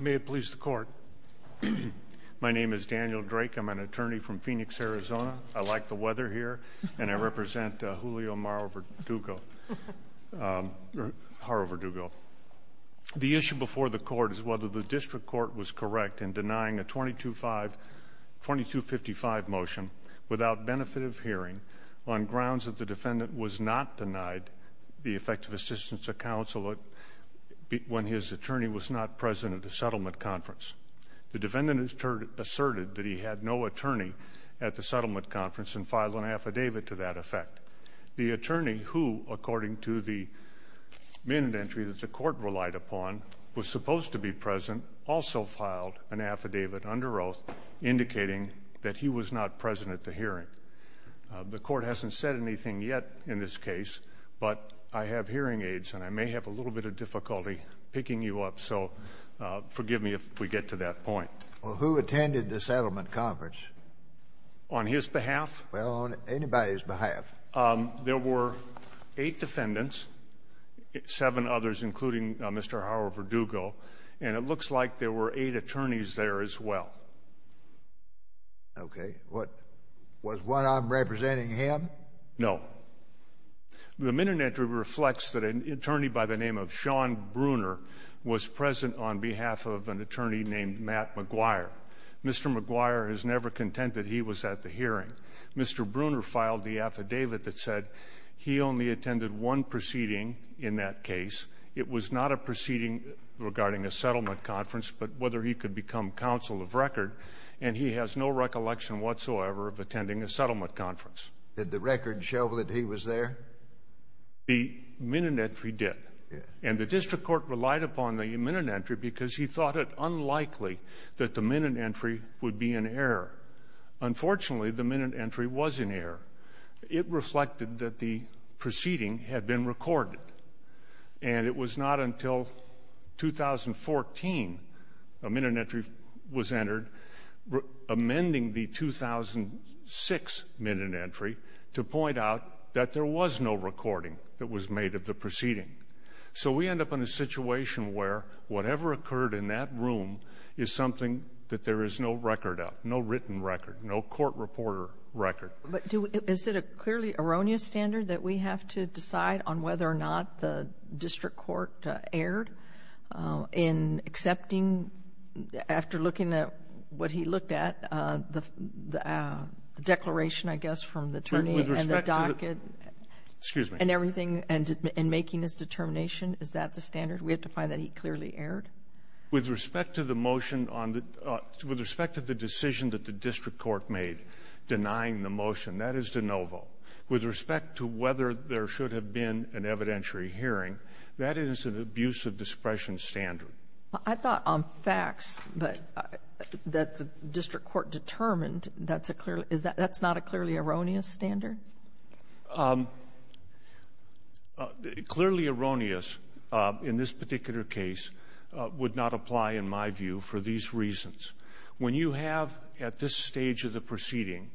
May it please the court. My name is Daniel Drake. I'm an attorney from Phoenix, Arizona. I like the weather here, and I represent Julio Haro-Verdugo. The issue before the court is whether the district court was correct in denying a 2255 motion without benefit of hearing on grounds that the defendant was not denied the effective assistance of counsel when his attorney was not present at the settlement conference. The defendant asserted that he had no attorney at the settlement conference and filed an affidavit to that effect. The attorney who, according to the minute entry that the court relied upon, was supposed to be present, also filed an affidavit under oath indicating that he was not present at the hearing. The court hasn't said anything yet in this case, but I have hearing aids, and I may have a little bit of difficulty picking you up, so forgive me if we get to that point. Well, who attended the settlement conference? On his behalf? Well, on anybody's behalf. There were eight defendants, seven others, including Mr. Haro-Verdugo, and it looks like there were eight attorneys there as well. Okay. Was one of them representing him? No. The minute entry reflects that an attorney by the name of Sean Brunner was present on behalf of an attorney named Matt McGuire. Mr. McGuire is never content that he was at the hearing. Mr. Brunner filed the affidavit that said he only attended one proceeding in that case. It was not a proceeding regarding a settlement conference, but whether he could become counsel of record, and he has no recollection whatsoever of attending a settlement conference. Did the record show that he was there? The minute entry did, and the district court relied upon the minute entry because he thought it unlikely that the minute entry would be in error. Unfortunately, the minute entry was in error. It reflected that the proceeding had been recorded, and it was not until 2014 a minute entry was entered amending the 2006 minute entry to point out that there was no recording that was made of the proceeding. So we end up in a situation where whatever occurred in that room is something that there is no record of, no written record, no court reporter record. But is it a clearly erroneous standard that we have to decide on whether or not the district court erred in accepting, after looking at what he looked at, the declaration, I guess, from the attorney and the docket and everything, and making his determination? Is that the standard? We have to find that he clearly erred? With respect to the motion on the — with respect to whether there should have been an evidentiary hearing, that is an abuse of discretion standard. I thought on facts that the district court determined, that's not a clearly erroneous standard? Clearly erroneous in this particular case would not apply, in my view, for these reasons. When you have, at this stage of the proceeding,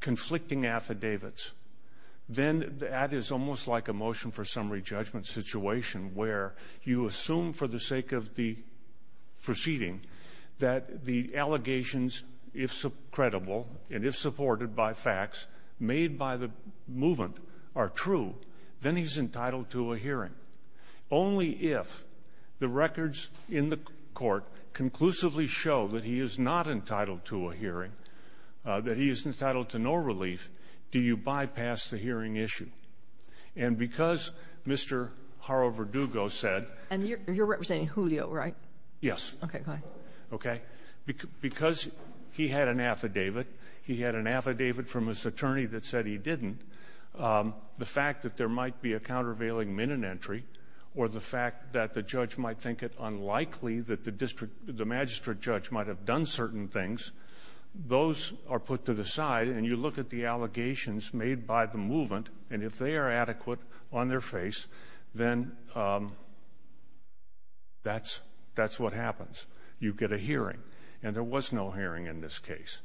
conflicting affidavits, then that is almost like a motion for summary judgment situation, where you assume for the sake of the proceeding that the allegations, if credible and if supported by facts made by the movement, are true. Then he's entitled to a hearing. Only if the records in the court conclusively show that he is not entitled to a hearing, that he is entitled to no relief, do you bypass the hearing issue. And because Mr. Harover-Dugo said — And you're representing Julio, right? Yes. Okay. Go ahead. Okay. Because he had an affidavit. He had an affidavit from his attorney that said he didn't. The fact that there might be a countervailing minute entry or the fact that the judge might think it unlikely that the magistrate judge might have done certain things, those are put to the side, and you look at the allegations made by the movement, and if they are adequate on their face, then that's what happens. You get a hearing. And there was no hearing in this case.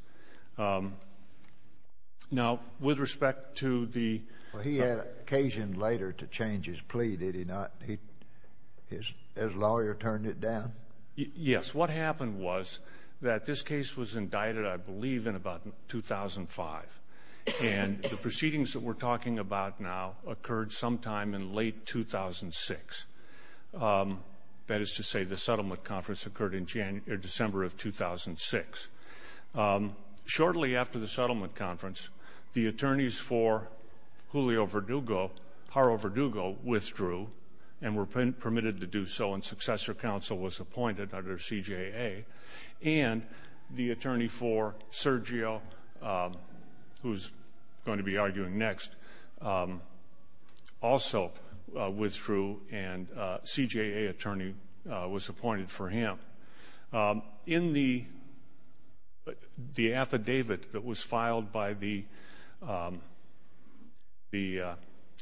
Now, with respect to the — Well, he had occasion later to change his plea, did he not? His lawyer turned it down? Yes. What happened was that this case was indicted, I believe, in about 2005, and the proceedings that we're talking about now occurred sometime in late 2006. That is to say, the settlement conference occurred in December of 2006. Shortly after the settlement conference, the attorneys for Julio Verdugo, Jaro Verdugo, withdrew and were permitted to do so, and successor counsel was appointed under CJA, and the attorney for Sergio, who's going to be arguing next, also withdrew, and a CJA attorney was appointed for him. In the affidavit that was filed by the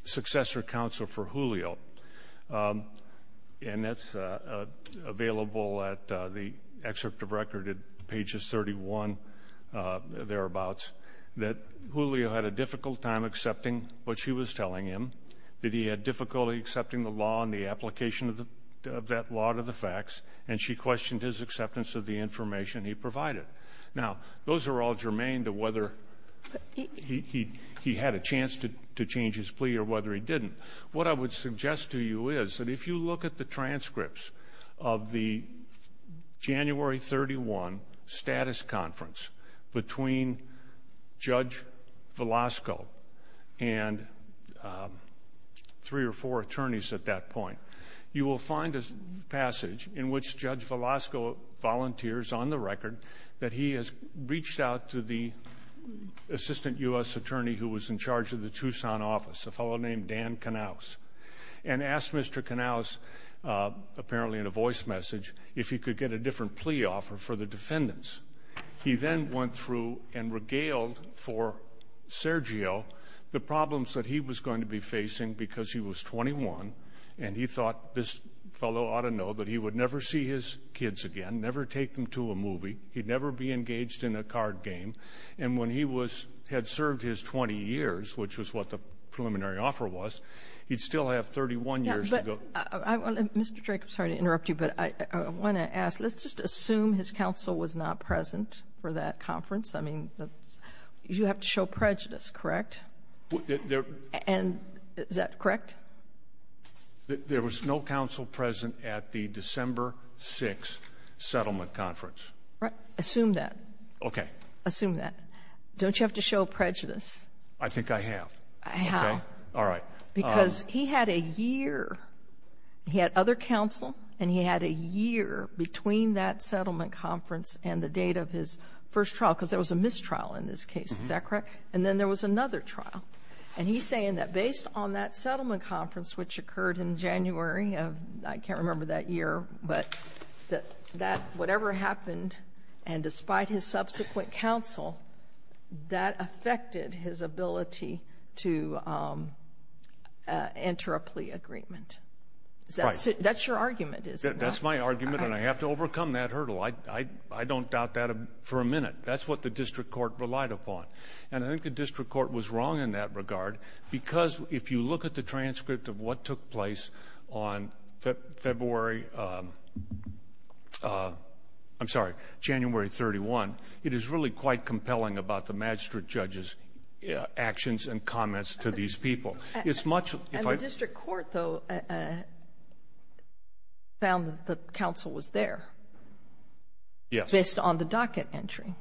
successor counsel for Julio, and that's available at the excerpt of record at pages 31, thereabouts, that Julio had a difficult time accepting what she was telling him, that he had difficulty accepting the law and the application of that law to the facts, and she questioned his acceptance of the information he provided. Now, those are all germane to whether he had a chance to change his plea or whether he didn't. What I would suggest to you is that if you look at the transcripts of the January 31 status conference between Judge Velasco and three or four attorneys at that point, you will find a passage in which Judge Velasco volunteers on the record that he has reached out to the assistant U.S. attorney who was in charge of the Tucson office, a fellow named Dan Knauss, and asked Mr. Knauss, apparently in a voice message, if he could get a different plea offer for the defendants. He then went through and regaled for Sergio the problems that he was going to be facing because he was 21, and he thought this fellow ought to know that he would never see his kids again, never take them to a movie. He'd never be engaged in a card game. And when he was — had served his 20 years, which was what the preliminary offer was, he'd still have 31 years to go. Mr. Drake, I'm sorry to interrupt you, but I want to ask, let's just assume his counsel was not present for that conference. I mean, you have to show prejudice, correct? And is that correct? There was no counsel present at the December 6th settlement conference. Assume that. Okay. Assume that. Don't you have to show prejudice? I think I have. Okay. All right. Because he had a year — he had other counsel, and he had a year between that settlement conference and the date of his first trial, because there was a mistrial in this case. Is that correct? Correct. And then there was another trial. And he's saying that based on that settlement conference, which occurred in January of — I can't remember that year, but that whatever happened, and despite his subsequent counsel, that affected his ability to enter a plea agreement. Right. That's your argument, is it not? That's my argument, and I have to overcome that hurdle. I don't doubt that for a minute. That's what the district court relied upon. And I think the district court was wrong in that regard, because if you look at the transcript of what took place on February — I'm sorry, January 31, it is really quite compelling about the magistrate judge's actions and comments to these people. It's much — And the district court, though, found that the counsel was there. Yes. Based on the docket entry.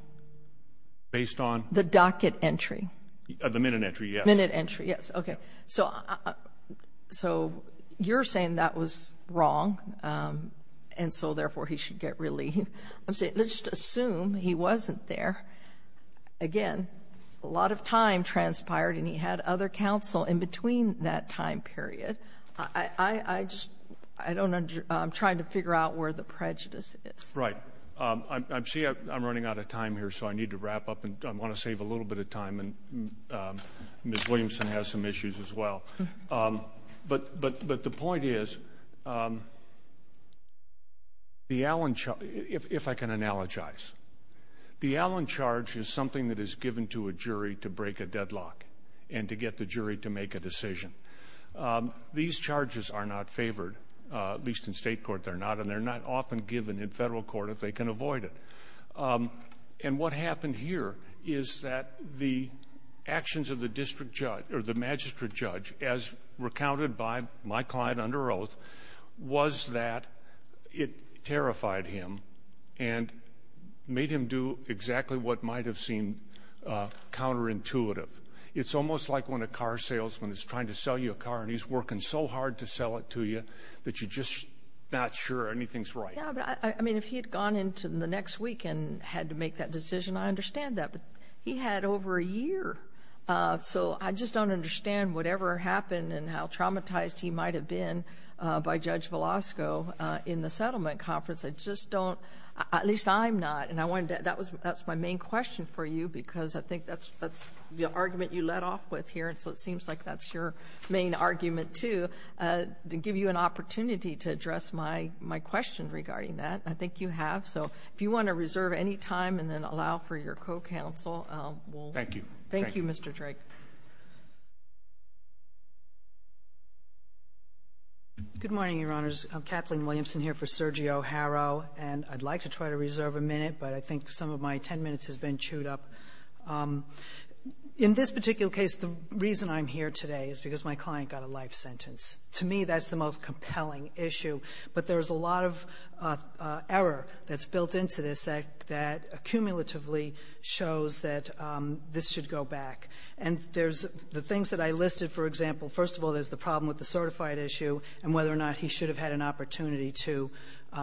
Based on? The docket entry. The minute entry, yes. Minute entry, yes. Okay. So you're saying that was wrong, and so, therefore, he should get relief. Let's just assume he wasn't there. Again, a lot of time transpired, and he had other counsel in between that time period. I just — I don't — I'm trying to figure out where the prejudice is. Right. See, I'm running out of time here, so I need to wrap up. I want to save a little bit of time, and Ms. Williamson has some issues as well. But the point is, the Allen — if I can analogize. The Allen charge is something that is given to a jury to break a deadlock and to get the jury to make a decision. These charges are not favored, at least in state court they're not, and they're not often given in federal court if they can avoid it. And what happened here is that the actions of the magistrate judge, as recounted by my client under oath, was that it terrified him and made him do exactly what might have seemed counterintuitive. It's almost like when a car salesman is trying to sell you a car, and he's working so hard to sell it to you that you're just not sure anything's right. Yeah, but, I mean, if he had gone into the next week and had to make that decision, I understand that, but he had over a year. So I just don't understand whatever happened and how traumatized he might have been by Judge Velasco in the settlement conference. I just don't — at least I'm not. And I wanted to — that's my main question for you, because I think that's the argument you led off with here, and so it seems like that's your main argument, too, to give you an opportunity to address my question regarding that. I think you have. So if you want to reserve any time and then allow for your co-counsel, we'll — Thank you. Thank you, Mr. Drake. Good morning, Your Honors. Kathleen Williamson here for Sergio Haro. And I'd like to try to reserve a minute, but I think some of my 10 minutes has been chewed up. In this particular case, the reason I'm here today is because my client got a life sentence. To me, that's the most compelling issue. But there's a lot of error that's built into this that accumulatively shows that this should go back. And there's — the things that I listed, for example, first of all, there's the problem with the certified issue and whether or not he should have had an opportunity to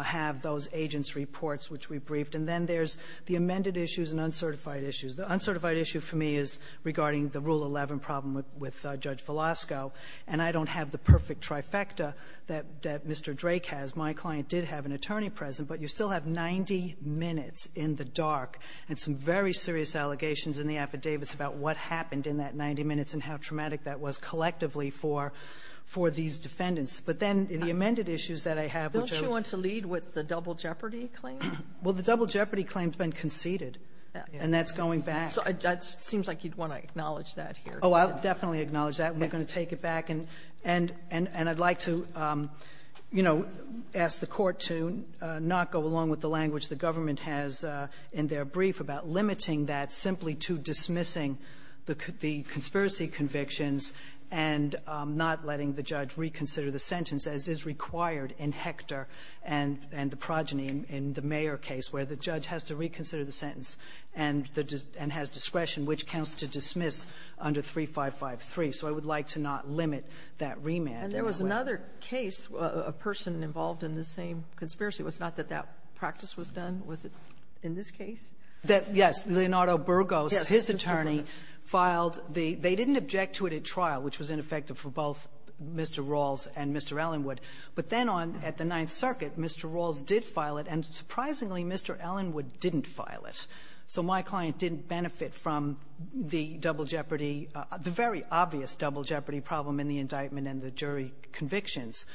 have those agents' reports, which we briefed. And then there's the amended issues and uncertified issues. The uncertified issue for me is regarding the Rule 11 problem with Judge Velasco. And I don't have the perfect trifecta that Mr. Drake has. My client did have an attorney present. But you still have 90 minutes in the dark and some very serious allegations in the affidavits about what happened in that 90 minutes and how traumatic that was collectively for these defendants. But then the amended issues that I have, which are — Don't you want to lead with the double jeopardy claim? Well, the double jeopardy claim has been conceded. And that's going back. It seems like you'd want to acknowledge that here. Oh, I'll definitely acknowledge that. We're going to take it back. And I'd like to, you know, ask the Court to not go along with the language the government has in their brief about limiting that simply to dismissing the conspiracy convictions and not letting the judge reconsider the sentence as is required in Hector and the progeny in the Mayer case where the judge has to reconsider the sentence and has discretion which counts to dismiss under 3553. So I would like to not limit that remand. And there was another case, a person involved in the same conspiracy. Was it not that that practice was done? Was it in this case? Yes. Leonardo Burgos, his attorney, filed the — they didn't object to it at trial, which was ineffective for both Mr. Rawls and Mr. Ellenwood. But then on — at the Ninth Circuit, Mr. Rawls did file it, and surprisingly, Mr. Ellenwood didn't file it. So my client didn't benefit from the double jeopardy — the very obvious double jeopardy problem in the indictment and the jury convictions.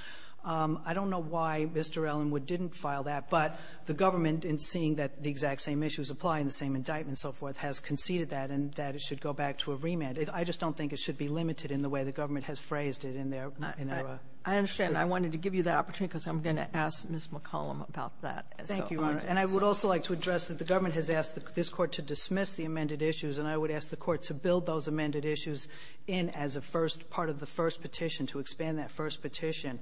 I don't know why Mr. Ellenwood didn't file that, but the government, in seeing that the exact same issues apply in the same indictment and so forth, has conceded that and that it should go back to a remand. I just don't think it should be limited in the way the government has phrased it in their — in their — I understand. I wanted to give you that opportunity because I'm going to ask Ms. McCollum about that. Thank you, Your Honor. And I would also like to address that the government has asked this Court to dismiss the amended issues, and I would ask the Court to build those amended issues in as a first part of the first petition, to expand that first petition.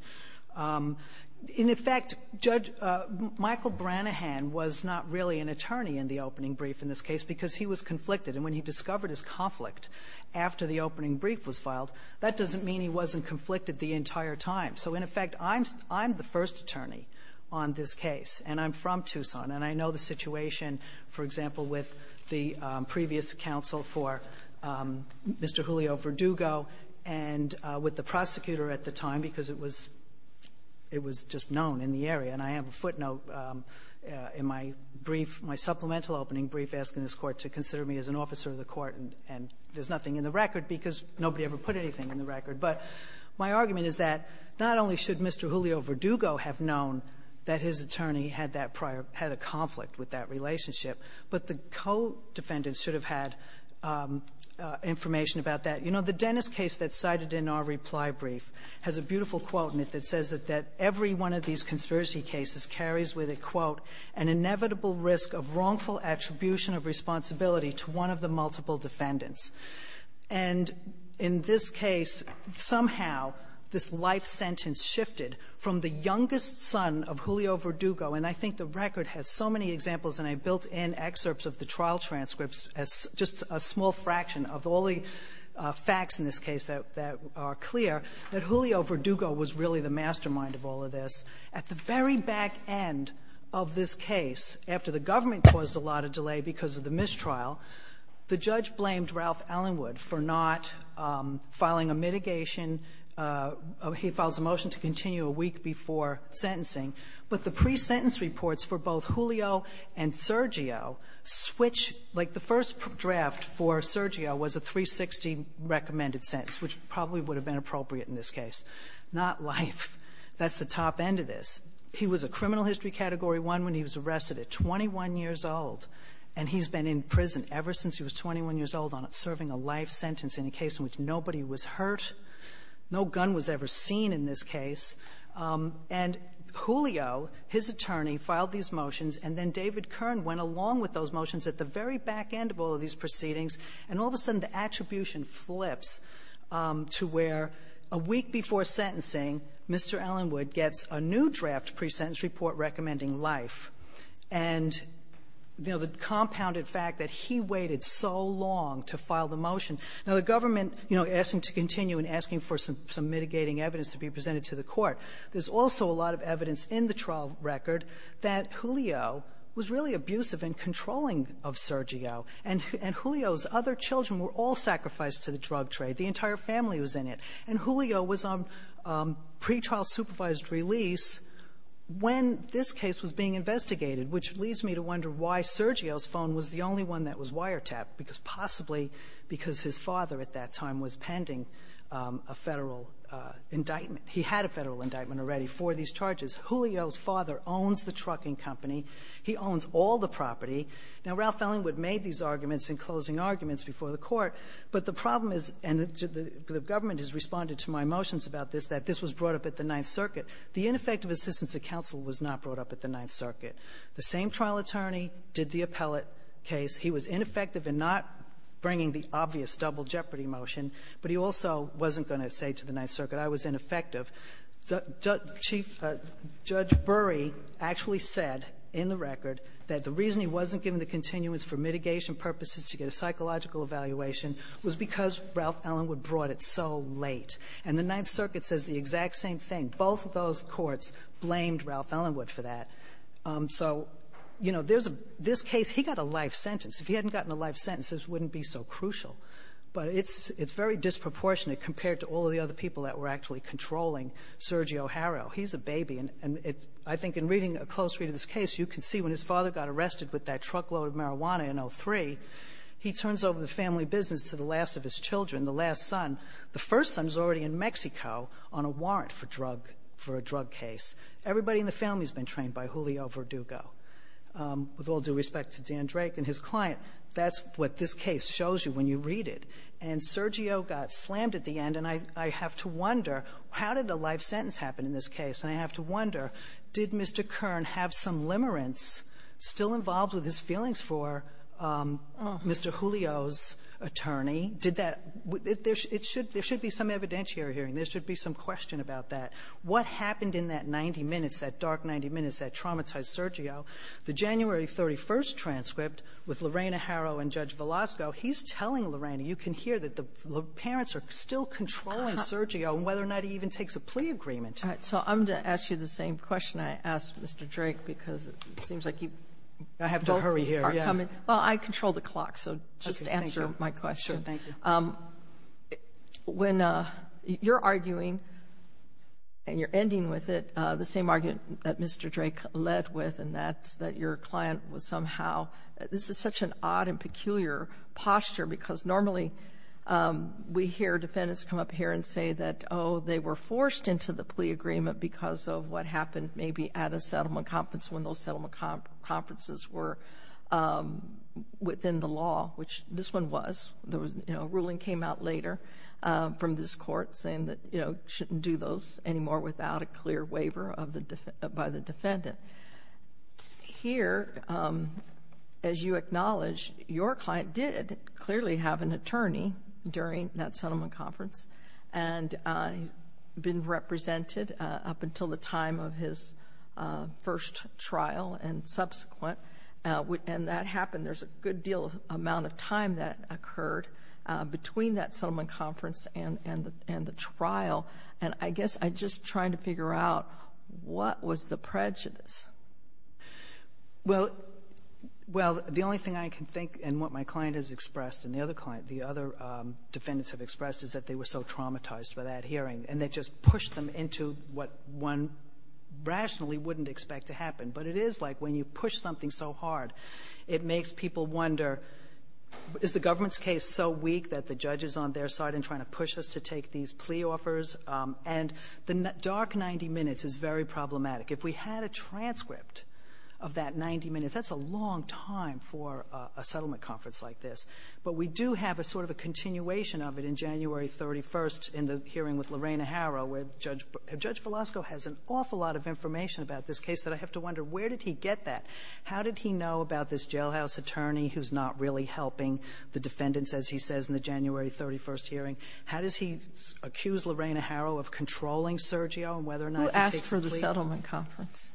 In effect, Judge — Michael Branahan was not really an attorney in the opening brief in this case because he was conflicted. And when he discovered his conflict after the opening brief was filed, that doesn't mean he wasn't conflicted the entire time. So in effect, I'm — I'm the first attorney on this case, and I'm from Tucson, and I know the situation, for example, with the previous counsel for Mr. Julio Verdugo and with the prosecutor at the time because it was — it was just known in the area. And I have a footnote in my brief, my supplemental opening brief, asking this Court to consider me as an officer of the court, and there's nothing in the record because nobody ever put anything in the record. But my argument is that not only should Mr. Julio Verdugo have known that his attorney had that prior — had a conflict with that relationship, but the co-defendants should have had information about that. You know, the Dennis case that's cited in our reply brief has a beautiful quote in it that says that every one of these conspiracy cases carries with it, quote, an inevitable risk of wrongful attribution of responsibility to one of the multiple defendants. And in this case, somehow, this life sentence shifted from the youngest son of Julio Verdugo, and I think the record has so many examples, and I built in excerpts of the trial transcripts as just a small fraction of all the facts in this case that are clear, that Julio Verdugo was really the mastermind of all of this. At the very back end of this case, after the government caused a lot of delay because of the mistrial, the judge blamed Ralph Ellenwood for not filing a mitigation — he files a motion to continue a week before sentencing. But the pre-sentence reports for both Julio and Sergio switch — like, the first draft for Sergio was a 360 recommended sentence, which probably would have been appropriate in this case. Not life. That's the top end of this. He was a criminal history category one when he was arrested at 21 years old, and he's been in prison ever since he was 21 years old on serving a life sentence in a case in which nobody was hurt, no gun was ever seen in this case. And Julio, his attorney, filed these motions, and then David Kern went along with those motions at the very back end of all of these proceedings, and all of a sudden, the attribution flips to where a week before sentencing, Mr. Ellenwood gets a new draft pre-sentence report recommending life. And, you know, the compounded fact that he waited so long to file the motion. Now, the government, you know, asking to continue and asking for some mitigating evidence to be presented to the court. There's also a lot of evidence in the trial record that Julio was really abusive in controlling of Sergio, and Julio's other children were all sacrificed to the drug trade. The entire family was in it. And Julio was on pretrial supervised release when this case was being investigated, which leads me to wonder why Sergio's phone was the only one that was wiretapped, because possibly because his father at that time was pending a Federal indictment. He had a Federal indictment already for these charges. Julio's father owns the trucking company. He owns all the property. Now, Ralph Ellenwood made these arguments in closing arguments before the Court, but the problem is, and the government has responded to my motions about this, that this was brought up at the Ninth Circuit. The ineffective assistance of counsel was not brought up at the Ninth Circuit. The same trial attorney did the appellate case. He was ineffective in not bringing the obvious double jeopardy motion, but he also wasn't going to say to the Ninth Circuit, I was ineffective. Chief Judge Bury actually said in the record that the reason he wasn't given the continuance for mitigation purposes to get a psychological evaluation was because Ralph Ellenwood brought it so late. And the Ninth Circuit says the exact same thing. Both of those courts blamed Ralph Ellenwood for that. So, you know, there's a — this is a life sentence. If he hadn't gotten a life sentence, this wouldn't be so crucial. But it's very disproportionate compared to all of the other people that were actually controlling Sergio Haro. He's a baby. And I think in reading a close read of this case, you can see when his father got arrested with that truckload of marijuana in 2003, he turns over the family business to the last of his children, the last son. The first son is already in Mexico on a warrant for drug — for a drug case. Everybody in the family has been trained by Julio Verdugo. With all due respect to Dan Drake and his client, that's what this case shows you when you read it. And Sergio got slammed at the end. And I have to wonder, how did a life sentence happen in this case? And I have to wonder, did Mr. Kern have some limerence still involved with his feelings for Mr. Julio's attorney? Did that — there should be some evidentiary hearing. There should be some question about that. What happened in that 90 minutes, that dark 90 minutes that traumatized Sergio, the January 31st transcript with Lorena Haro and Judge Velasco, he's telling Lorena, you can hear that the parents are still controlling Sergio and whether or not he even takes a plea agreement. All right. So I'm going to ask you the same question I asked Mr. Drake because it seems like you both are coming. I have to hurry here, yeah. Sure. Thank you. When you're arguing and you're ending with it, the same argument that Mr. Drake led with, and that's that your client was somehow — this is such an odd and peculiar posture because normally we hear defendants come up here and say that, oh, they were forced into the plea agreement because of what happened maybe at a settlement conference when those settlement conferences were within the law, which this one was. A ruling came out later from this court saying that you shouldn't do those anymore without a clear waiver by the defendant. Here, as you acknowledge, your client did clearly have an attorney during that settlement conference, and he's been represented up until the time of his first trial and subsequent, and that happened. There's a good deal of amount of time that occurred between that settlement conference and the trial, and I guess I'm just trying to figure out what was the prejudice? Well, the only thing I can think and what my client has expressed and the other client, the other defendants have expressed is that they were so traumatized by that hearing, and they just pushed them into what one rationally wouldn't expect to happen. But it is like when you push something so hard, it makes people wonder, is the government's case so weak that the judge is on their side and trying to push us to take these plea offers? And the dark 90 minutes is very problematic. If we had a transcript of that 90 minutes, that's a long time for a settlement conference like this. But we do have a sort of a continuation of it in January 31st in the hearing with Lorena Harrow, where Judge Velasco has an awful lot of information about this case that I have to wonder, where did he get that? How did he know about this jailhouse attorney who's not really helping the defendants, as he says, in the January 31st hearing? How does he accuse Lorena Harrow of controlling Sergio and whether or not he takes a plea offer? Who asked for the settlement conference?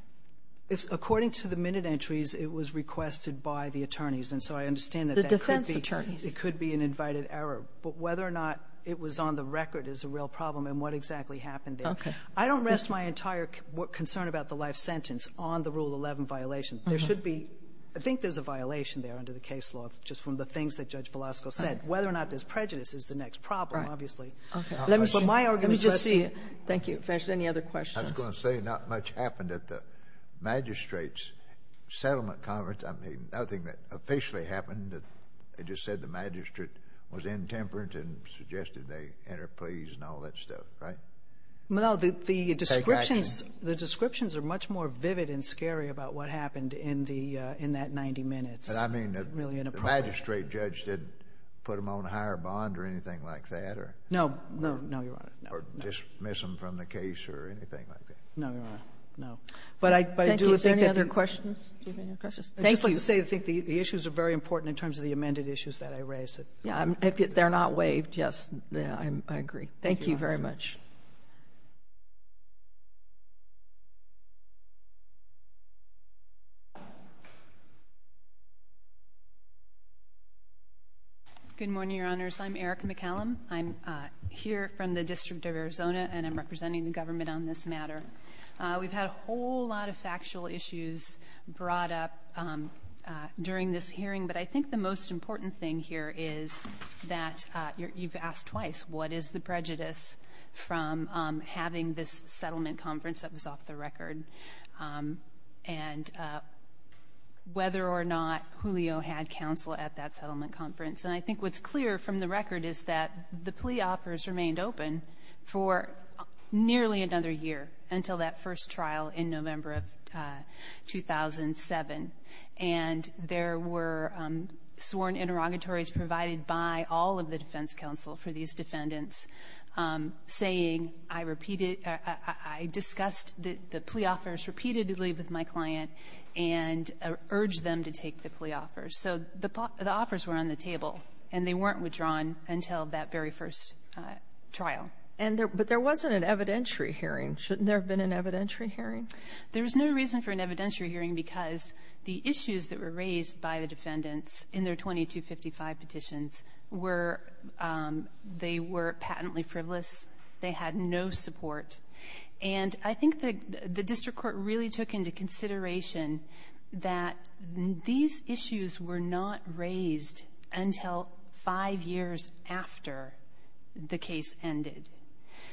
According to the minute entries, it was requested by the attorneys. And so I understand that that could be an invited error. But whether or not it was on the record is a real problem, and what exactly happened there. Okay. I don't rest my entire concern about the life sentence on the Rule 11 violation. There should be — I think there's a violation there under the case law, just from the things that Judge Velasco said. Whether or not there's prejudice is the next problem, obviously. Let me just see it. But my argument is that the — Thank you. Finch, any other questions? I was going to say not much happened at the magistrate's settlement conference. I mean, nothing that officially happened. They just said the magistrate was intemperate and suggested they enter pleas and all that stuff, right? Well, the descriptions — Take action. The descriptions are much more vivid and scary about what happened in the — in that 90 minutes. But I mean, the magistrate judge didn't put them on a higher bond or anything like that, or — No, no, no, Your Honor. Or dismiss them from the case or anything like that. No, Your Honor. No. But I do think that the — Thank you. Is there any other questions? Do you have any other questions? Thank you. I just wanted to say I think the issues are very important in terms of the amended issues that I raised. Yeah, if they're not waived, yes, I agree. Thank you very much. Thank you. Good morning, Your Honors. I'm Erica McCallum. I'm here from the District of Arizona, and I'm representing the government on this matter. We've had a whole lot of factual issues brought up during this hearing, but I think the most important thing here is that — you've asked twice — what is the difference from having this settlement conference that was off the record, and whether or not Julio had counsel at that settlement conference. And I think what's clear from the record is that the plea offers remained open for nearly another year, until that first trial in November of 2007. And there were sworn interrogatories provided by all of the defense counsel for these defendants, saying, I repeated — I discussed the plea offers repeatedly with my client and urged them to take the plea offers. So the offers were on the table, and they weren't withdrawn until that very first trial. And there — but there wasn't an evidentiary hearing. Shouldn't there have been an evidentiary hearing? There was no reason for an evidentiary hearing, because the issues that were They were patently frivolous. They had no support. And I think the district court really took into consideration that these issues were not raised until five years after the case ended.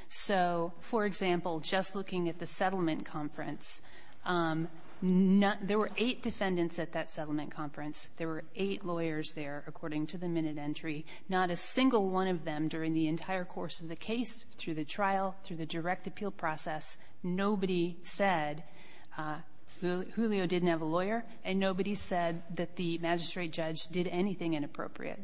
So, for example, just looking at the settlement conference, there were eight defendants at that settlement conference. There were eight lawyers there, according to the minute entry. Not a single one of them, during the entire course of the case, through the trial, through the direct appeal process, nobody said — Julio didn't have a lawyer, and nobody said that the magistrate judge did anything inappropriate.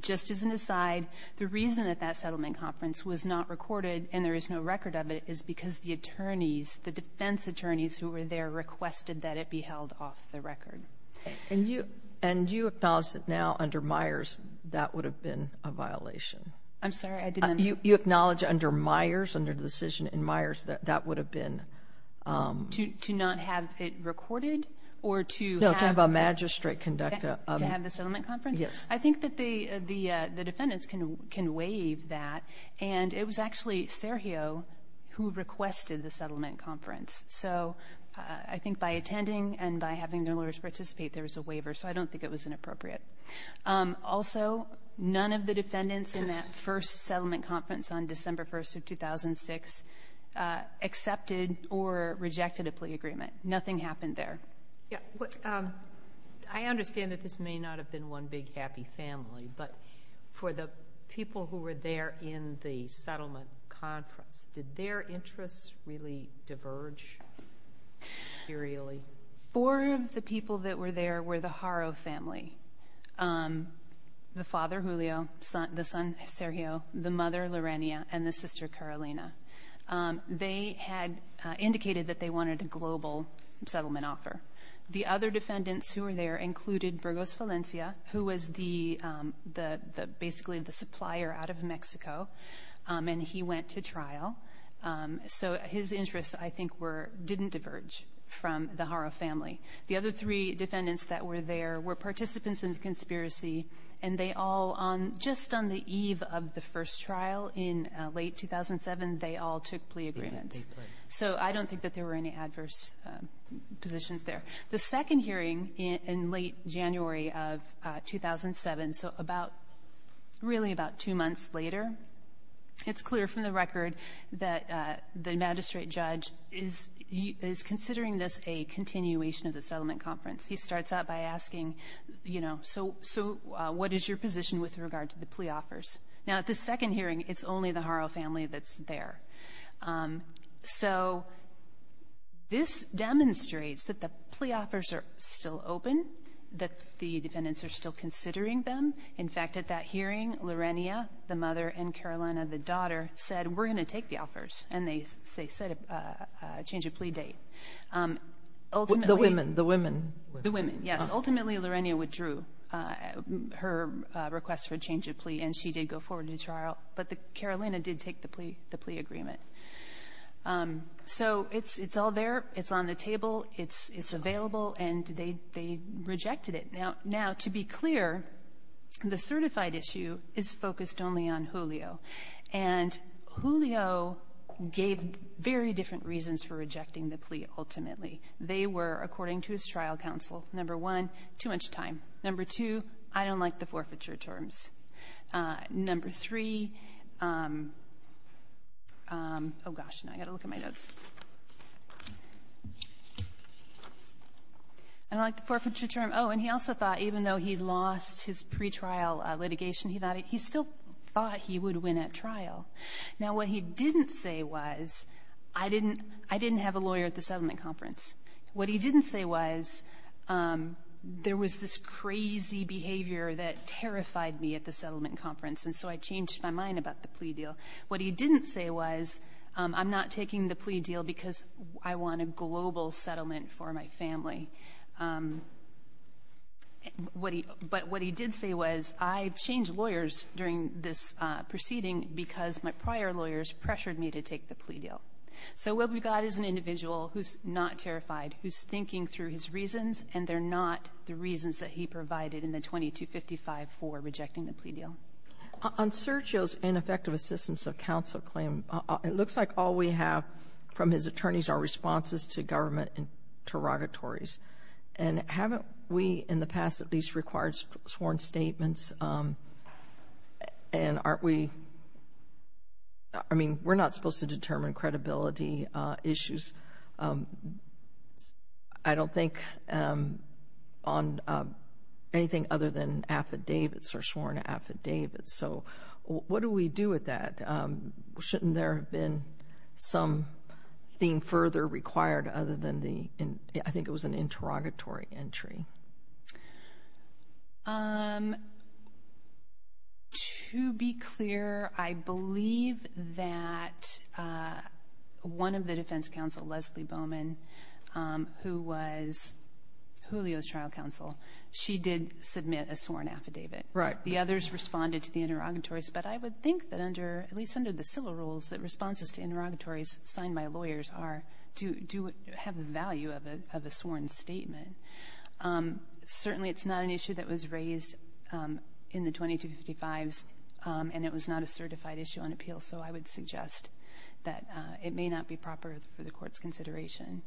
Just as an aside, the reason that that settlement conference was not recorded and there is no record of it is because the attorneys, the defense attorneys who were there, requested that it be held off the record. And you acknowledge that now, under Myers, that would have been a violation? I'm sorry, I didn't — You acknowledge under Myers, under the decision in Myers, that that would have been — To not have it recorded, or to have — No, to have a magistrate conduct a — To have the settlement conference? Yes. I think that the defendants can waive that, and it was actually Sergio who requested the settlement conference. So, I think by attending and by having the lawyers participate, there was a waiver. So, I don't think it was inappropriate. Also, none of the defendants in that first settlement conference on December 1st of 2006 accepted or rejected a plea agreement. Nothing happened there. Yeah, I understand that this may not have been one big happy family, but for the people who were there in the settlement conference, did their interests really diverge? Periodically? Four of the people that were there were the Haro family. The father, Julio, the son, Sergio, the mother, Lorenia, and the sister, Carolina. They had indicated that they wanted a global settlement offer. The other defendants who were there included Burgos Valencia, who was basically the supplier out of Mexico. And he went to trial. So, his interests, I think, didn't diverge from the Haro family. The other three defendants that were there were participants in the conspiracy, and they all, just on the eve of the first trial in late 2007, they all took plea agreements. So, I don't think that there were any adverse positions there. The second hearing in late January of 2007, so really about two months later, it's clear from the record that the magistrate judge is considering this a continuation of the settlement conference. He starts out by asking, so what is your position with regard to the plea offers? Now, at the second hearing, it's only the Haro family that's there. So, this demonstrates that the plea offers are still open, that the defendants are still considering them. In fact, at that hearing, Lorenia, the mother, and Carolina, the daughter, said, we're going to take the offers. And they set a change of plea date. Ultimately- The women? The women, yes. Ultimately, Lorenia withdrew her request for a change of plea, and she did go forward to trial. But Carolina did take the plea agreement. So, it's all there, it's on the table, it's available, and they rejected it. Now, to be clear, the certified issue is focused only on Julio. And Julio gave very different reasons for rejecting the plea, ultimately. They were, according to his trial counsel, number one, too much time. Number two, I don't like the forfeiture terms. Number three, gosh, now I've got to look at my notes. I don't like the forfeiture term. And he also thought, even though he lost his pre-trial litigation, he still thought he would win at trial. Now, what he didn't say was, I didn't have a lawyer at the settlement conference. What he didn't say was, there was this crazy behavior that terrified me at the settlement conference, and so I changed my mind about the plea deal. What he didn't say was, I'm not taking the plea deal because I want a global settlement for my family. But what he did say was, I changed lawyers during this proceeding because my prior lawyers pressured me to take the plea deal. So, we'll be glad it's an individual who's not terrified, who's thinking through his reasons, and they're not the reasons that he provided in the 2255 for rejecting the plea deal. On Sergio's ineffective assistance of counsel claim, it looks like all we have from his attorneys are responses to government interrogatories. And haven't we, in the past, at least required sworn statements? And aren't we, I mean, we're not supposed to determine credibility issues. I don't think on anything other than affidavits or sworn affidavits. So, what do we do with that? Shouldn't there have been something further required other than the, I think it was an interrogatory entry. To be clear, I believe that one of the defense counsel, Leslie Bowman, who was Julio's trial counsel, she did submit a sworn affidavit. Right. The others responded to the interrogatories. But I would think that under, at least under the civil rules, that responses to interrogatories signed by lawyers are, do have the value of a sworn statement. Certainly, it's not an issue that was raised in the 2255s. And it was not a certified issue on appeal. So, I would suggest that it may not be proper for the court's consideration.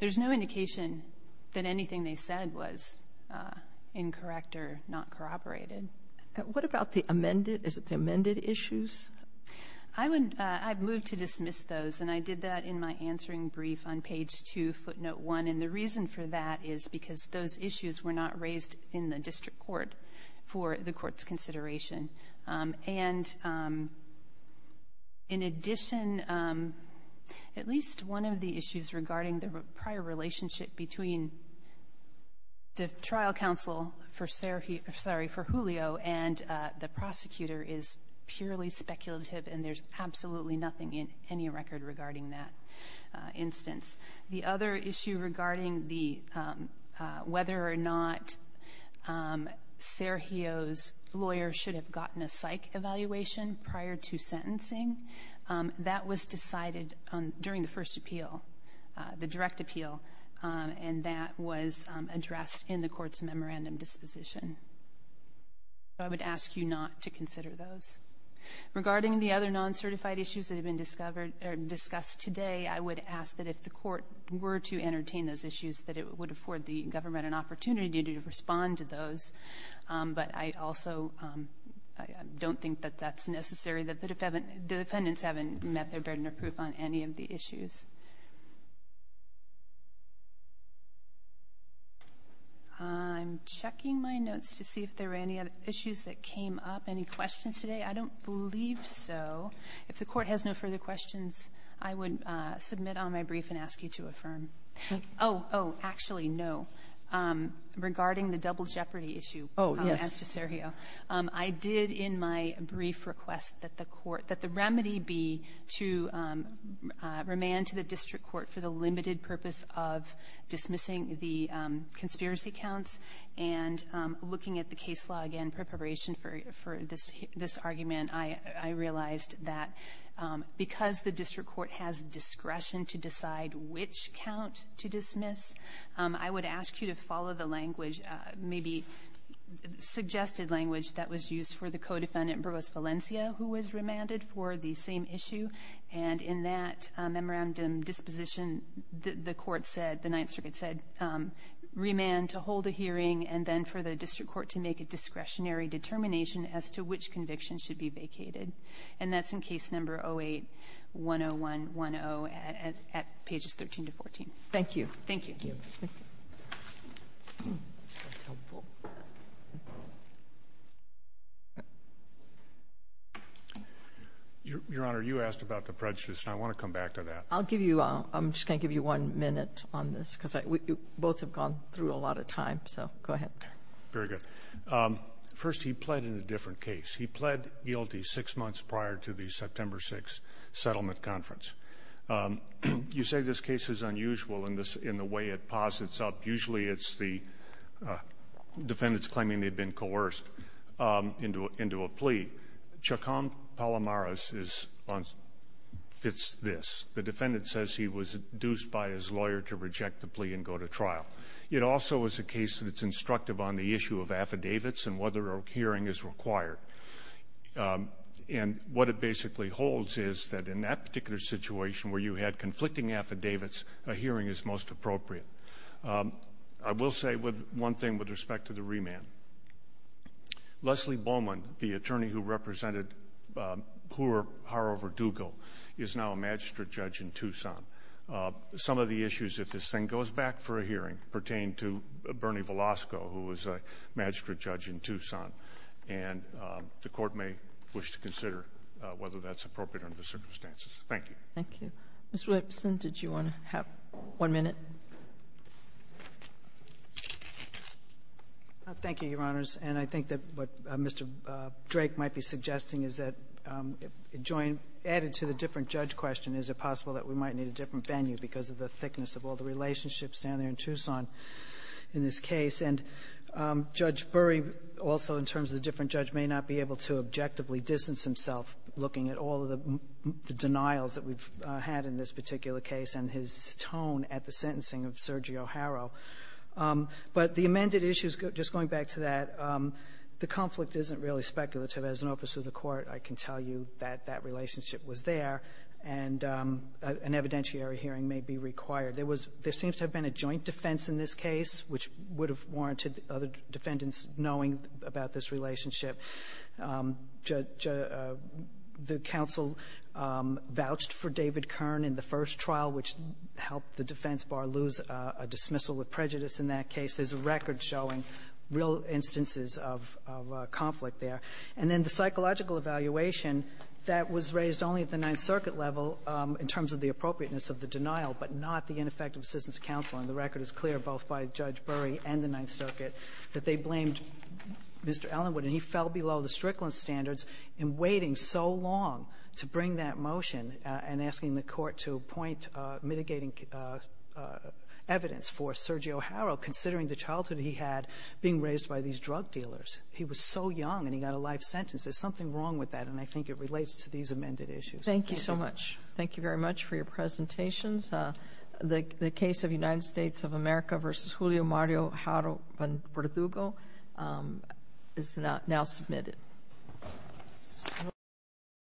There's no indication that anything they said was incorrect or not corroborated. What about the amended, is it the amended issues? I would, I've moved to dismiss those. And I did that in my answering brief on page two, footnote one. And the reason for that is because those issues were not raised in the district court for the court's consideration. And in addition, at least one of the issues regarding the prior relationship between the trial counsel for, sorry, for Julio and the prosecutor is purely speculative. And there's absolutely nothing in any record regarding that instance. The other issue regarding the, whether or not Sergio's lawyer should have gotten a psych evaluation prior to sentencing. That was decided during the first appeal, the direct appeal. And that was addressed in the court's memorandum disposition. I would ask you not to consider those. Regarding the other non-certified issues that have been discussed today, I would ask that if the court were to entertain those issues, that it would afford the government an opportunity to respond to those. But I also don't think that that's necessary, that the defendants haven't met their burden of proof on any of the issues. I'm checking my notes to see if there are any other issues that came up. Any questions today? I don't believe so. If the court has no further questions, I would submit on my brief and ask you to affirm. Oh, actually, no. Regarding the double jeopardy issue as to Sergio, I did in my brief request that the court, that the remedy be to remand to the district court for the limited purpose of dismissing the conspiracy counts. And looking at the case log and preparation for this argument, I realized that because the district court has discretion to decide which count to dismiss, I would ask you to follow the language, maybe suggested language, that was used for the co-defendant, Provost Valencia, who was remanded for the same issue. And in that memorandum disposition, the court said, the Ninth Circuit said, remand to hold a hearing, and then for the district court to make a discretionary determination as to which conviction should be vacated. And that's in case number 08-10110 at pages 13 to 14. Thank you. Thank you. Thank you. Your Honor, you asked about the prejudice, and I want to come back to that. I'll give you, I'm just going to give you one minute on this, because we both have gone through a lot of time, so go ahead. Very good. First, he pled in a different case. He pled guilty six months prior to the September 6th settlement conference. You say this case is unusual in the way it posits up. Usually it's the defendants claiming they've been coerced into a plea. Chacom Palamaras fits this. The defendant says he was induced by his lawyer to reject the plea and go to trial. It also is a case that's instructive on the issue of affidavits and whether a hearing is required. And what it basically holds is that in that particular situation where you had conflicting affidavits, a hearing is most appropriate. I will say one thing with respect to the remand. Leslie Bowman, the attorney who represented Poor Harover Dugo, is now a magistrate judge in Tucson. Some of the issues, if this thing goes back for a hearing, pertain to Bernie Velasco, who was a magistrate judge in Tucson. And the court may wish to consider whether that's appropriate under the circumstances. Thank you. Thank you. Ms. Williamson, did you want to have one minute? Thank you, Your Honors. And I think that what Mr. Drake might be suggesting is that, added to the different judge question, is it possible that we might need a different venue because of the thickness of all the relationships down there in Tucson in this case? And Judge Burry, also in terms of the different judge, may not be able to objectively distance himself looking at all of the denials that we've had in this particular case and his tone at the sentencing of Sergio Haro. But the amended issues, just going back to that, the conflict isn't really speculative. As an officer of the court, I can tell you that that relationship was there, and an evidentiary hearing may be required. There was — there seems to have been a joint defense in this case, which would have warranted other defendants knowing about this relationship. Judge — the counsel vouched for David Kern in the first trial, which helped the defense bar lose a dismissal with prejudice in that case. There's a record showing real instances of — of conflict there. And then the psychological evaluation that was raised only at the Ninth Circuit level in terms of the appropriateness of the denial but not the ineffective assistance of counsel. And the record is clear, both by Judge Burry and the Ninth Circuit, that they blamed Mr. Allenwood, and he fell below the Strickland standards in waiting so long to bring that motion and asking the court to appoint mitigating evidence for Sergio Haro, considering the childhood he had being raised by these drug dealers. He was so young, and he got a life sentence. There's something wrong with that, and I think it relates to these amended issues. Thank you so much. Thank you very much for your presentations. The case of United States of America v. Julio Mario Haro v. Verdugo is now submitted.